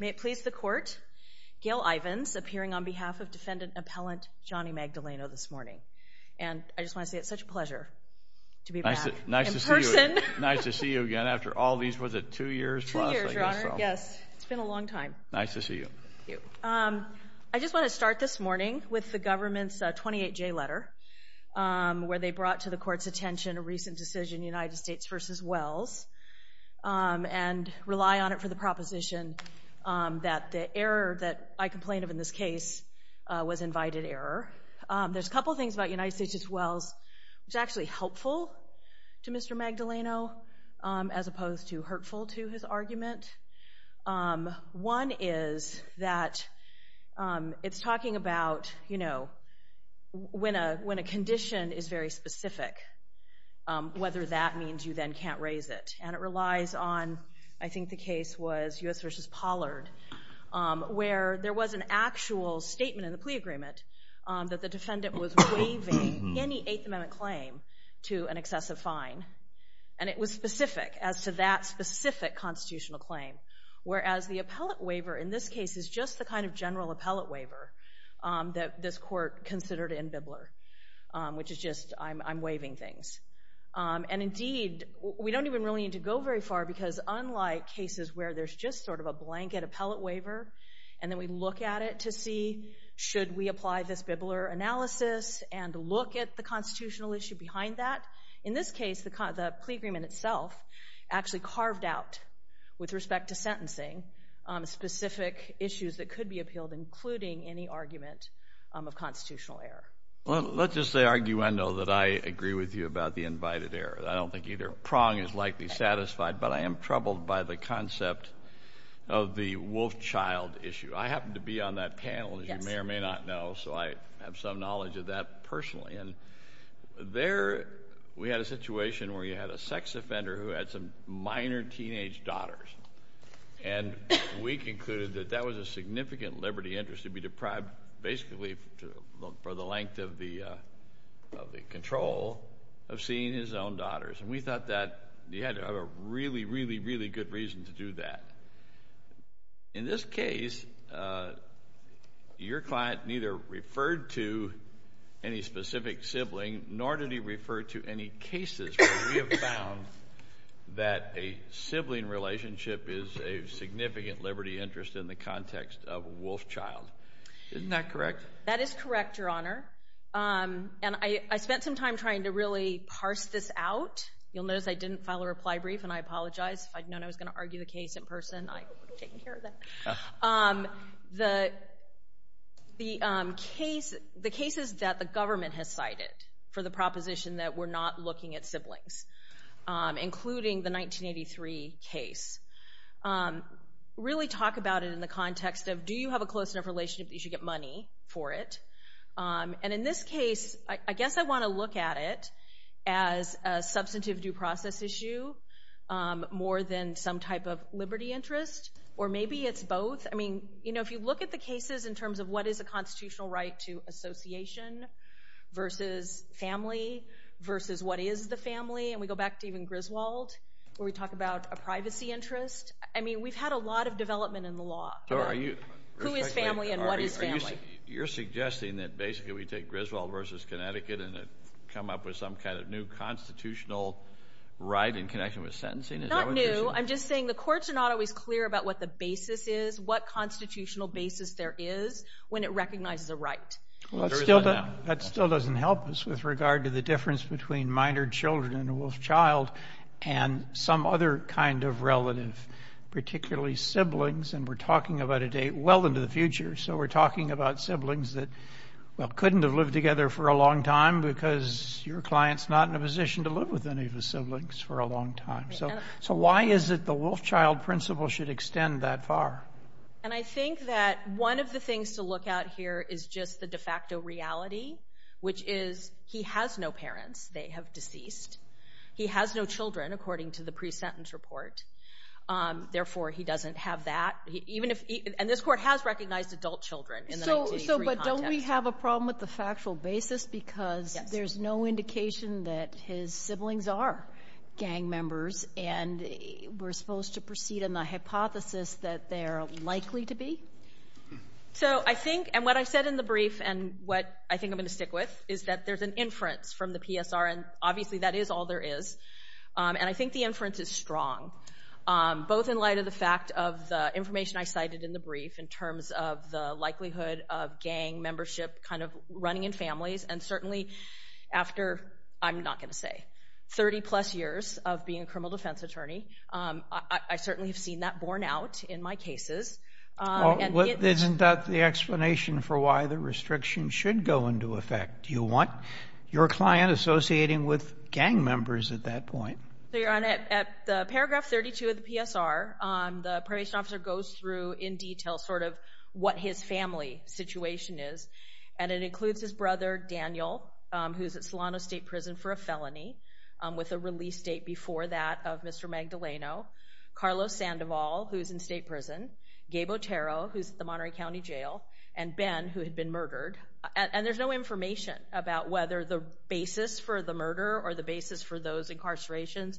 May it please the court, Gail Ivins appearing on behalf of defendant appellant Johnny Magdaleno this morning. And I just want to say it's such a pleasure to be back in person. Nice to see you again after all these, was it two years plus? Two years, your honor, yes. It's been a long time. Nice to see you. I just want to start this morning with the government's 28-J letter, where they brought to the court's attention a recent decision, United States v. Wells, and rely on it for the proposition that the error that I complain of in this case was invited error. There's a couple of things about United States v. Wells which are actually helpful to Mr. Magdaleno as opposed to hurtful to his argument. One is that it's talking about, you know, when a condition is very specific, whether that means you then can't raise it. And it relies on, I think the case was U.S. v. Pollard, where there was an actual statement in the plea agreement that the defendant was waiving any Eighth Amendment claim to an excessive fine. And it was specific as to that specific constitutional claim, whereas the appellate waiver in this case is just the kind of general appellate waiver that this court considered in Bibler, which is just I'm waiving things. And indeed, we don't even really need to go very far because unlike cases where there's just sort of a blanket appellate waiver and then we look at it to see should we apply this Bibler analysis and look at the constitutional issue behind that, in this case the plea agreement itself actually carved out, with respect to sentencing, specific issues that could be appealed, including any argument of constitutional error. Well, let's just say arguendo that I agree with you about the invited error. I don't think either prong is likely satisfied, but I am troubled by the concept of the wolf child issue. I happen to be on that panel, as you may or may not know, so I have some knowledge of that personally. And there we had a situation where you had a sex offender who had some minor teenage daughters. And we concluded that that was a significant liberty interest to be deprived basically for the length of the control of seeing his own daughters. And we thought that you had to have a really, really, really good reason to do that. In this case, your client neither referred to any specific sibling nor did he refer to any cases where we have found that a sibling relationship is a significant liberty interest in the context of a wolf child. Isn't that correct? That is correct, Your Honor. And I spent some time trying to really parse this out. You'll notice I didn't file a reply brief, and I apologize. If I'd known I was going to argue the case in person, I would have taken care of that. The cases that the government has cited for the proposition that we're not looking at siblings, including the 1983 case, really talk about it in the context of do you have a close enough relationship that you should get money for it? And in this case, I guess I want to look at it as a substantive due process issue more than some type of liberty interest, or maybe it's both. If you look at the cases in terms of what is a constitutional right to association versus family versus what is the family, and we go back to even Griswold, where we talk about a privacy interest, we've had a lot of development in the law. Who is family and what is family? You're suggesting that basically we take Griswold versus Connecticut and come up with some kind of new constitutional right in connection with sentencing? Not new. I'm just saying the courts are not always clear about what the basis is, what constitutional basis there is when it recognizes a right. That still doesn't help us with regard to the difference between minor children and a wolf child and some other kind of relative, particularly siblings, and we're talking about a date well into the future, so we're talking about siblings that couldn't have lived together for a long time because your client's not in a position to live with any of his siblings for a long time. So why is it the wolf child principle should extend that far? I think that one of the things to look at here is just the de facto reality, which is he has no parents. They have deceased. He has no children, according to the pre-sentence report. Therefore, he doesn't have that. And this Court has recognized adult children in the 1983 context. So, but don't we have a problem with the factual basis because there's no indication that his siblings are gang members and we're supposed to proceed in the hypothesis that they're likely to be? So I think, and what I said in the brief and what I think I'm going to stick with is that there's an inference from the PSR, and obviously that is all there is, and I think the inference is strong, both in light of the fact of the information I cited in the brief in terms of the likelihood of gang membership kind of running in families and certainly after, I'm not going to say, 30-plus years of being a criminal defense attorney. I certainly have seen that borne out in my cases. Isn't that the explanation for why the restriction should go into effect? Do you want your client associating with gang members at that point? So you're on at paragraph 32 of the PSR. The probation officer goes through in detail sort of what his family situation is, and it includes his brother, Daniel, who's at Solano State Prison for a felony with a release date before that of Mr. Magdaleno, Carlos Sandoval, who's in state prison, Gabe Otero, who's at the Monterey County Jail, and Ben, who had been murdered. And there's no information about whether the basis for the murder or the basis for those incarcerations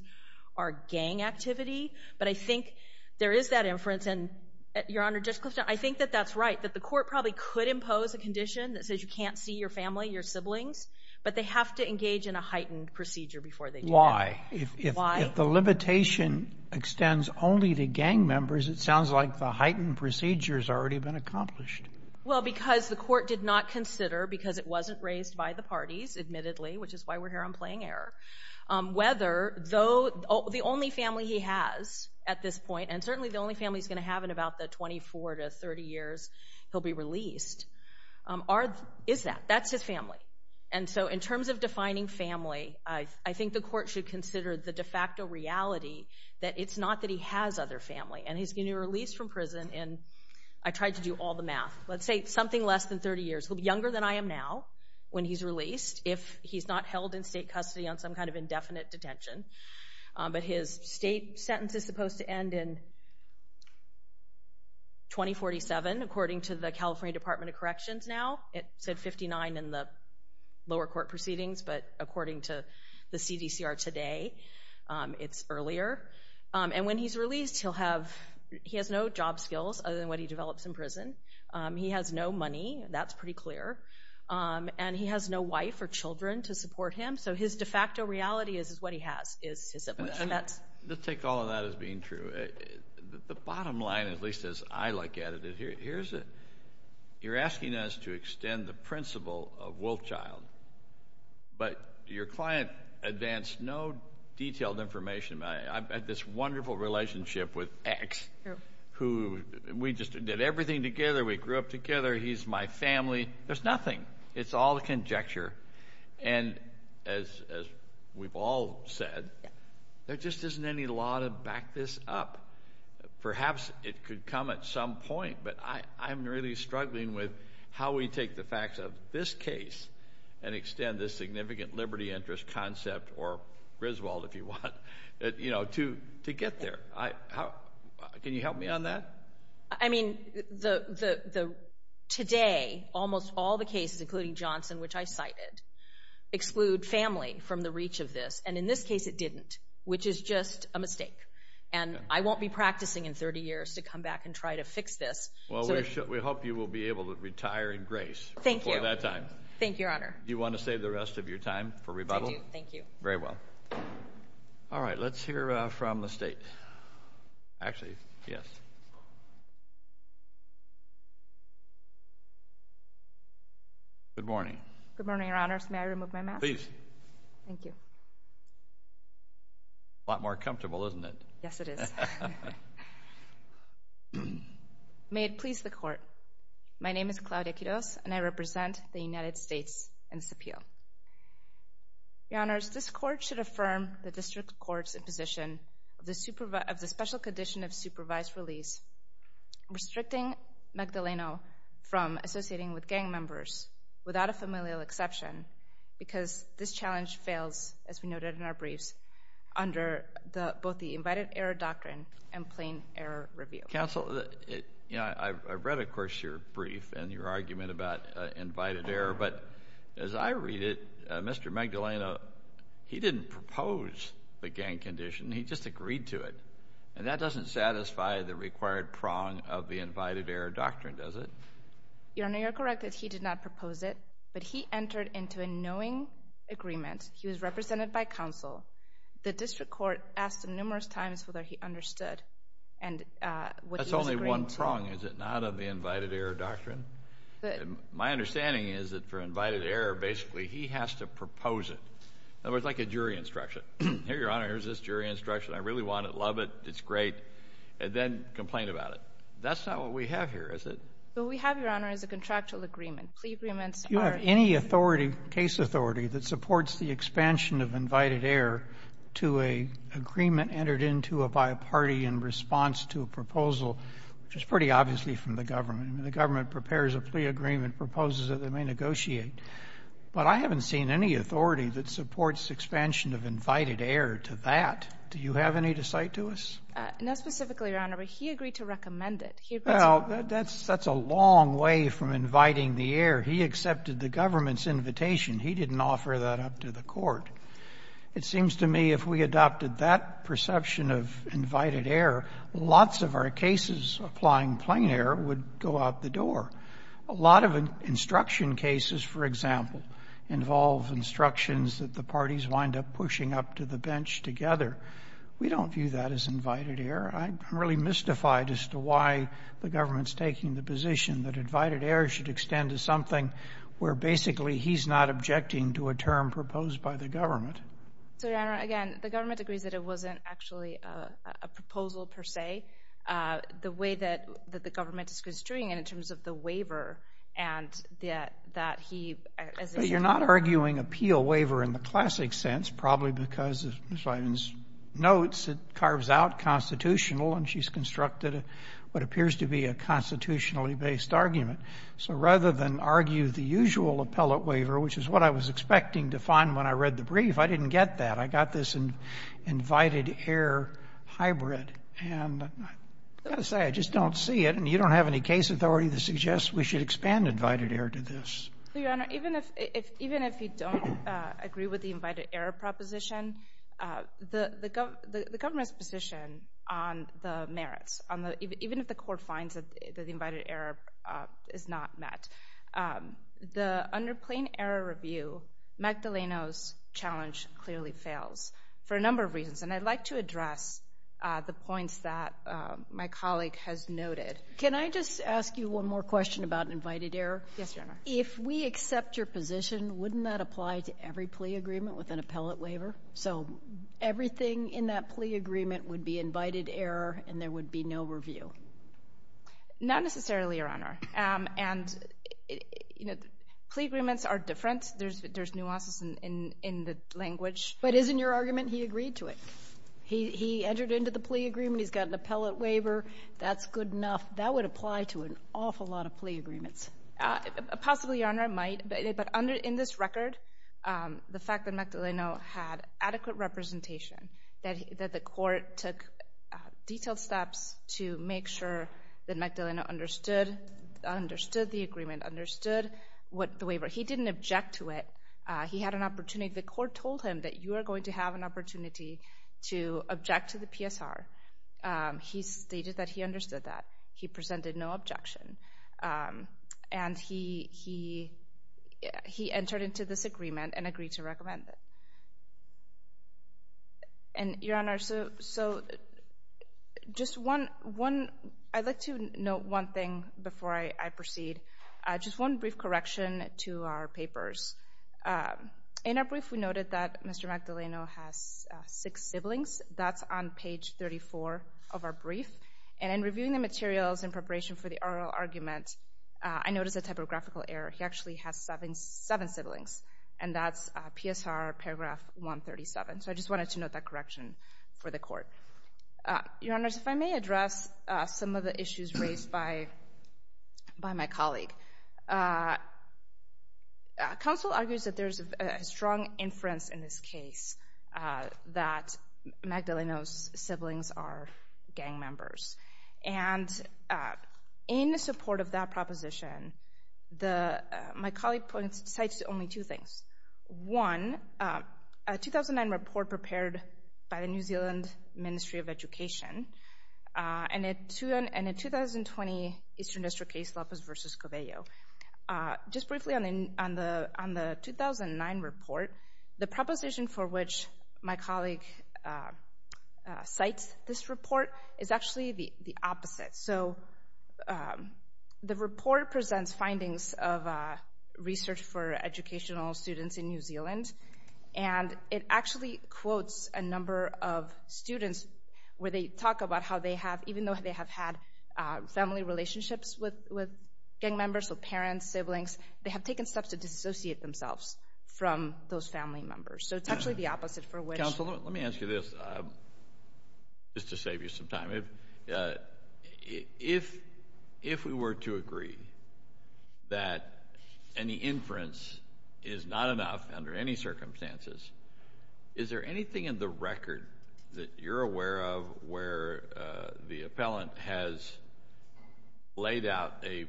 are gang activity, but I think there is that inference, and, Your Honor, Judge Clifton, I think that that's right, that the court probably could impose a condition that says you can't see your family, your siblings, but they have to engage in a heightened procedure before they do that. Why? If the limitation extends only to gang members, it sounds like the heightened procedure has already been accomplished. admittedly, which is why we're here on playing air, whether the only family he has at this point, and certainly the only family he's going to have in about the 24 to 30 years he'll be released, is that. That's his family. And so in terms of defining family, I think the court should consider the de facto reality that it's not that he has other family, and he's going to be released from prison in, I tried to do all the math, let's say something less than 30 years. He'll be younger than I am now when he's released, if he's not held in state custody on some kind of indefinite detention. But his state sentence is supposed to end in 2047, according to the California Department of Corrections now. It said 59 in the lower court proceedings, but according to the CDCR today, it's earlier. And when he's released, he has no job skills other than what he develops in prison. He has no money. That's pretty clear. And he has no wife or children to support him. So his de facto reality is what he has. Let's take all of that as being true. The bottom line, at least as I look at it, you're asking us to extend the principle of Wolfchild, but your client advanced no detailed information. I've had this wonderful relationship with X, who we just did everything together. We grew up together. He's my family. There's nothing. It's all conjecture. And as we've all said, there just isn't any law to back this up. Perhaps it could come at some point, but I'm really struggling with how we take the facts of this case and extend this significant liberty interest concept, or Griswold, if you want, to get there. Can you help me on that? I mean, today, almost all the cases, including Johnson, which I cited, exclude family from the reach of this, and in this case it didn't, which is just a mistake. And I won't be practicing in 30 years to come back and try to fix this. Well, we hope you will be able to retire in grace before that time. Thank you. Thank you, Your Honor. Do you want to save the rest of your time for rebuttal? I do, thank you. Very well. All right, let's hear from the State. Actually, yes. Good morning. Good morning, Your Honors. May I remove my mask? Please. Thank you. A lot more comfortable, isn't it? Yes, it is. May it please the Court, my name is Claudia Quiroz, and I represent the United States in this appeal. Your Honors, this Court should affirm the District Court's position of the special condition of supervised release restricting Magdaleno from associating with gang members without a familial exception because this challenge fails, as we noted in our briefs, under both the invited error doctrine and plain error review. Counsel, I've read, of course, your brief and your argument about invited error, but as I read it, Mr. Magdaleno, he didn't propose the gang condition. He just agreed to it. And that doesn't satisfy the required prong of the invited error doctrine, does it? Your Honor, you're correct that he did not propose it, but he entered into a knowing agreement. He was represented by counsel. The District Court asked him numerous times whether he understood. That's only one prong, is it not, of the invited error doctrine? My understanding is that for invited error, basically, he has to propose it. In other words, like a jury instruction. Here, Your Honor, here's this jury instruction. I really want it. Love it. It's great. And then complain about it. That's not what we have here, is it? What we have, Your Honor, is a contractual agreement. Plea agreements are any authority, case authority, that supports the expansion of invited error to an agreement entered into by a party in response to a proposal, which is pretty obviously from the government. I mean, the government prepares a plea agreement, proposes that they may negotiate. But I haven't seen any authority that supports expansion of invited error to that. Do you have any to cite to us? No, specifically, Your Honor. But he agreed to recommend it. Well, that's a long way from inviting the error. He accepted the government's invitation. He didn't offer that up to the Court. It seems to me if we adopted that perception of invited error, lots of our cases applying plain error would go out the door. A lot of instruction cases, for example, involve instructions that the parties wind up pushing up to the bench together. We don't view that as invited error. I'm really mystified as to why the government's taking the position that invited error should extend to something where basically he's not objecting to a term proposed by the government. So, Your Honor, again, the government agrees that it wasn't actually a proposal per se. The way that the government is construing it in terms of the waiver and that he, as a But you're not arguing appeal waiver in the classic sense, probably because of Ms. Wyden's notes, it carves out constitutional and she's constructed what appears to be a constitutionally based argument. So rather than argue the usual appellate waiver, which is what I was expecting to find when I read the brief, I didn't get that. I got this invited error hybrid. And I've got to say, I just don't see it. And you don't have any case authority that suggests we should expand invited error to this. So, Your Honor, even if you don't agree with the invited error proposition, the government's position on the merits, even if the court finds that the invited error is not met, the under plain error review, Magdaleno's challenge clearly fails for a number of reasons. And I'd like to address the points that my colleague has noted. Can I just ask you one more question about invited error? Yes, Your Honor. If we accept your position, wouldn't that apply to every plea agreement with an appellate waiver? So everything in that plea agreement would be invited error and there would be no review? Not necessarily, Your Honor. And, you know, plea agreements are different. There's nuances in the language. But isn't your argument he agreed to it? He entered into the plea agreement. He's got an appellate waiver. That's good enough. That would apply to an awful lot of plea agreements. Possibly, Your Honor, it might. But in this record, the fact that Magdaleno had adequate representation, that the court took detailed steps to make sure that Magdaleno understood the agreement, understood the waiver. He didn't object to it. He had an opportunity. The court told him that you are going to have an opportunity to object to the PSR. He stated that he understood that. He presented no objection. And he entered into this agreement and agreed to recommend it. And, Your Honor, I'd like to note one thing before I proceed. Just one brief correction to our papers. In our brief, we noted that Mr. Magdaleno has six siblings. That's on page 34 of our brief. And in reviewing the materials in preparation for the oral argument, I noticed a typographical error. He actually has seven siblings. And that's PSR paragraph 137. So I just wanted to note that correction for the court. Your Honors, if I may address some of the issues raised by my colleague. Counsel argues that there's a strong inference in this case that Magdaleno's siblings are gang members. And in support of that proposition, my colleague cites only two things. One, a 2009 report prepared by the New Zealand Ministry of Education and a 2020 Eastern District case, Lopez v. Covello. Just briefly on the 2009 report, the proposition for which my colleague cites this report is actually the opposite. So the report presents findings of research for educational students in New Zealand. And it actually quotes a number of students where they talk about how they have, even though they have had family relationships with gang members, with parents, siblings, they have taken steps to dissociate themselves from those family members. So it's actually the opposite for which. Counsel, let me ask you this, just to save you some time. If we were to agree that any inference is not enough under any circumstances, is there anything in the record that you're aware of where the appellant has laid out a,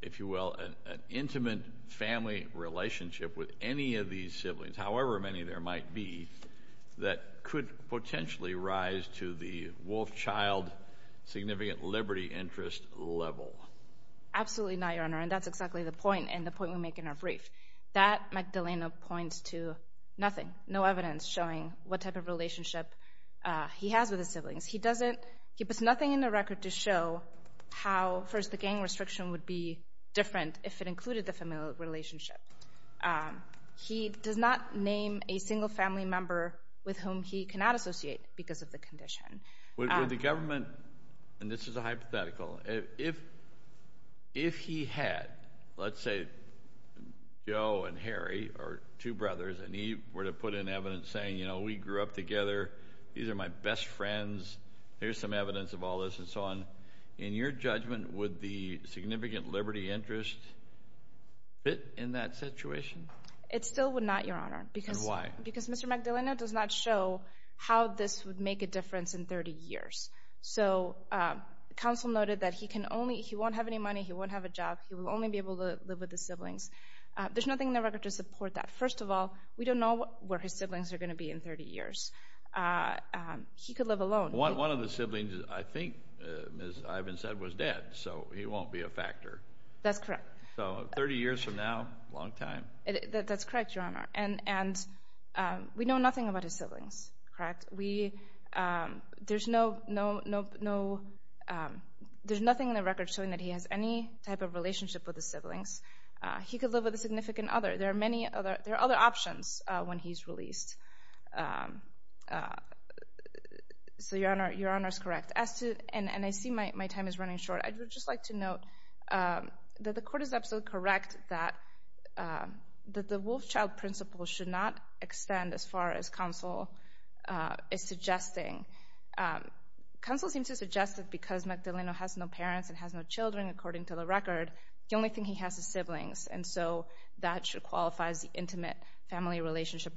if you will, an intimate family relationship with any of these siblings, however many there might be, that could potentially rise to the wolf child significant liberty interest level? Absolutely not, Your Honor. And that's exactly the point and the point we make in our brief. That, Magdalena, points to nothing, no evidence showing what type of relationship he has with his siblings. He doesn't, he puts nothing in the record to show how, first, the gang restriction would be different if it included the family relationship. He does not name a single family member with whom he cannot associate because of the condition. Would the government, and this is a hypothetical, if he had, let's say, Joe and Harry are two brothers, and he were to put in evidence saying, you know, we grew up together, these are my best friends, here's some evidence of all this, and so on, in your judgment would the significant liberty interest fit in that situation? It still would not, Your Honor. And why? Because Mr. Magdalena does not show how this would make a difference in 30 years. So counsel noted that he can only, he won't have any money, he won't have a job, he will only be able to live with his siblings. There's nothing in the record to support that. First of all, we don't know where his siblings are going to be in 30 years. He could live alone. One of the siblings, I think, Ms. Ivan said, was dead, so he won't be a factor. That's correct. So 30 years from now, a long time. That's correct, Your Honor. And we know nothing about his siblings, correct? There's nothing in the record showing that he has any type of relationship with his siblings. He could live with a significant other. There are many other options when he's released. So Your Honor is correct. And I see my time is running short. I would just like to note that the court is absolutely correct that the Wolfchild principle should not extend as far as counsel is suggesting. Counsel seems to suggest that because Magdaleno has no parents and has no children, according to the record, the only thing he has is siblings. And so that should qualify as the intimate family relationship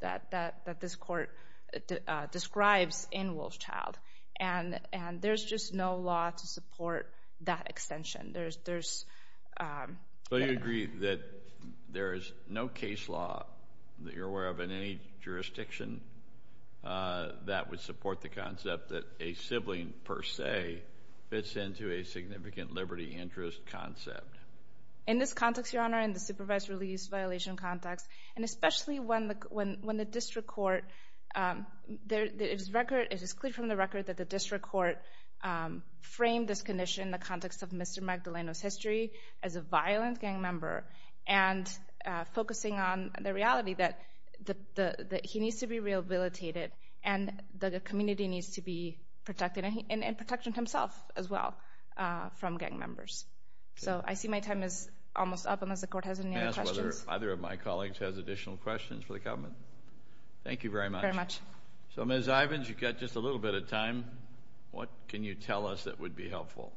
that this court describes in Wolfchild. And there's just no law to support that extension. So you agree that there is no case law that you're aware of in any jurisdiction that would support the concept that a sibling, per se, fits into a significant liberty interest concept? In this context, Your Honor, in the supervised release violation context, and especially when the district court, it is clear from the record that the district court framed this condition in the context of Mr. Magdaleno's history as a violent gang member and focusing on the reality that he needs to be rehabilitated and that the community needs to be protected and protection himself as well from gang members. So I see my time is almost up unless the court has any other questions. Can I ask whether either of my colleagues has additional questions for the government? Thank you very much. Very much. So, Ms. Ivins, you've got just a little bit of time. What can you tell us that would be helpful?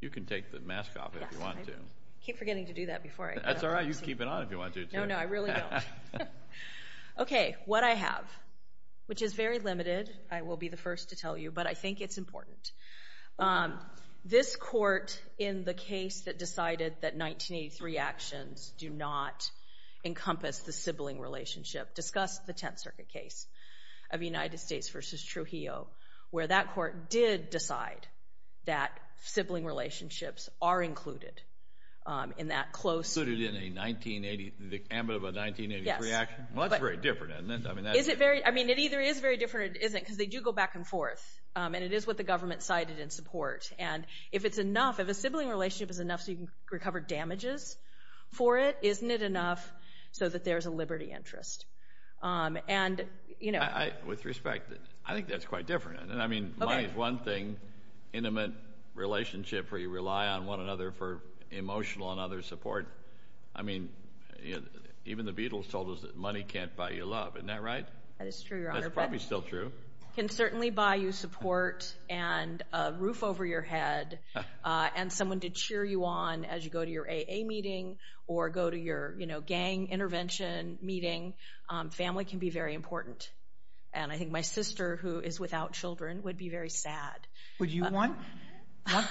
You can take the mask off if you want to. I keep forgetting to do that before I get up. That's all right. You can keep it on if you want to. No, no, I really don't. Okay, what I have, which is very limited, I will be the first to tell you, but I think it's important. This court, in the case that decided that 1983 actions do not encompass the sibling relationship, discussed the Tenth Circuit case of United States v. Trujillo, where that court did decide that sibling relationships are included in that close. Included in a 1980, the ambit of a 1983 action? Yes. Well, that's very different, isn't it? Is it very? I mean, it either is very different or it isn't because they do go back and forth, and it is what the government cited in support. And if it's enough, if a sibling relationship is enough so you can recover damages for it, isn't it enough so that there's a liberty interest? With respect, I think that's quite different. I mean, money is one thing. Intimate relationship where you rely on one another for emotional and other support. I mean, even the Beatles told us that money can't buy you love. Isn't that right? That is true, Your Honor. That's probably still true. It can certainly buy you support and a roof over your head and someone to cheer you on as you go to your AA meeting or go to your gang intervention meeting. Family can be very important. And I think my sister, who is without children, would be very sad. Would you want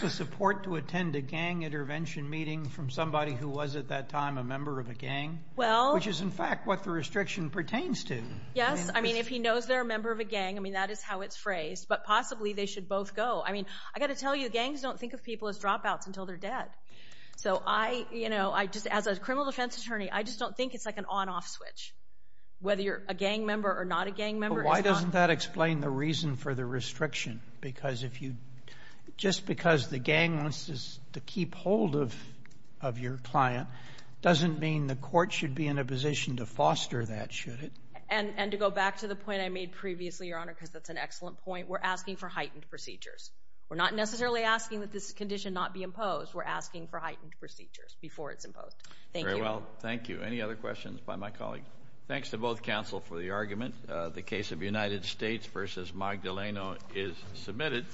the support to attend a gang intervention meeting from somebody who was at that time a member of a gang, which is, in fact, what the restriction pertains to? Yes. I mean, if he knows they're a member of a gang, I mean, that is how it's phrased. But possibly they should both go. I mean, I've got to tell you, gangs don't think of people as dropouts until they're dead. So I, you know, as a criminal defense attorney, I just don't think it's like an on-off switch. Whether you're a gang member or not a gang member is not— But why doesn't that explain the reason for the restriction? Because if you—just because the gang wants to keep hold of your client doesn't mean the court should be in a position to foster that, should it? And to go back to the point I made previously, Your Honor, because that's an excellent point, we're asking for heightened procedures. We're not necessarily asking that this condition not be imposed. We're asking for heightened procedures before it's imposed. Thank you. Very well. Thank you. Any other questions by my colleagues? Thanks to both counsel for the argument. The case of United States v. Magdaleno is submitted.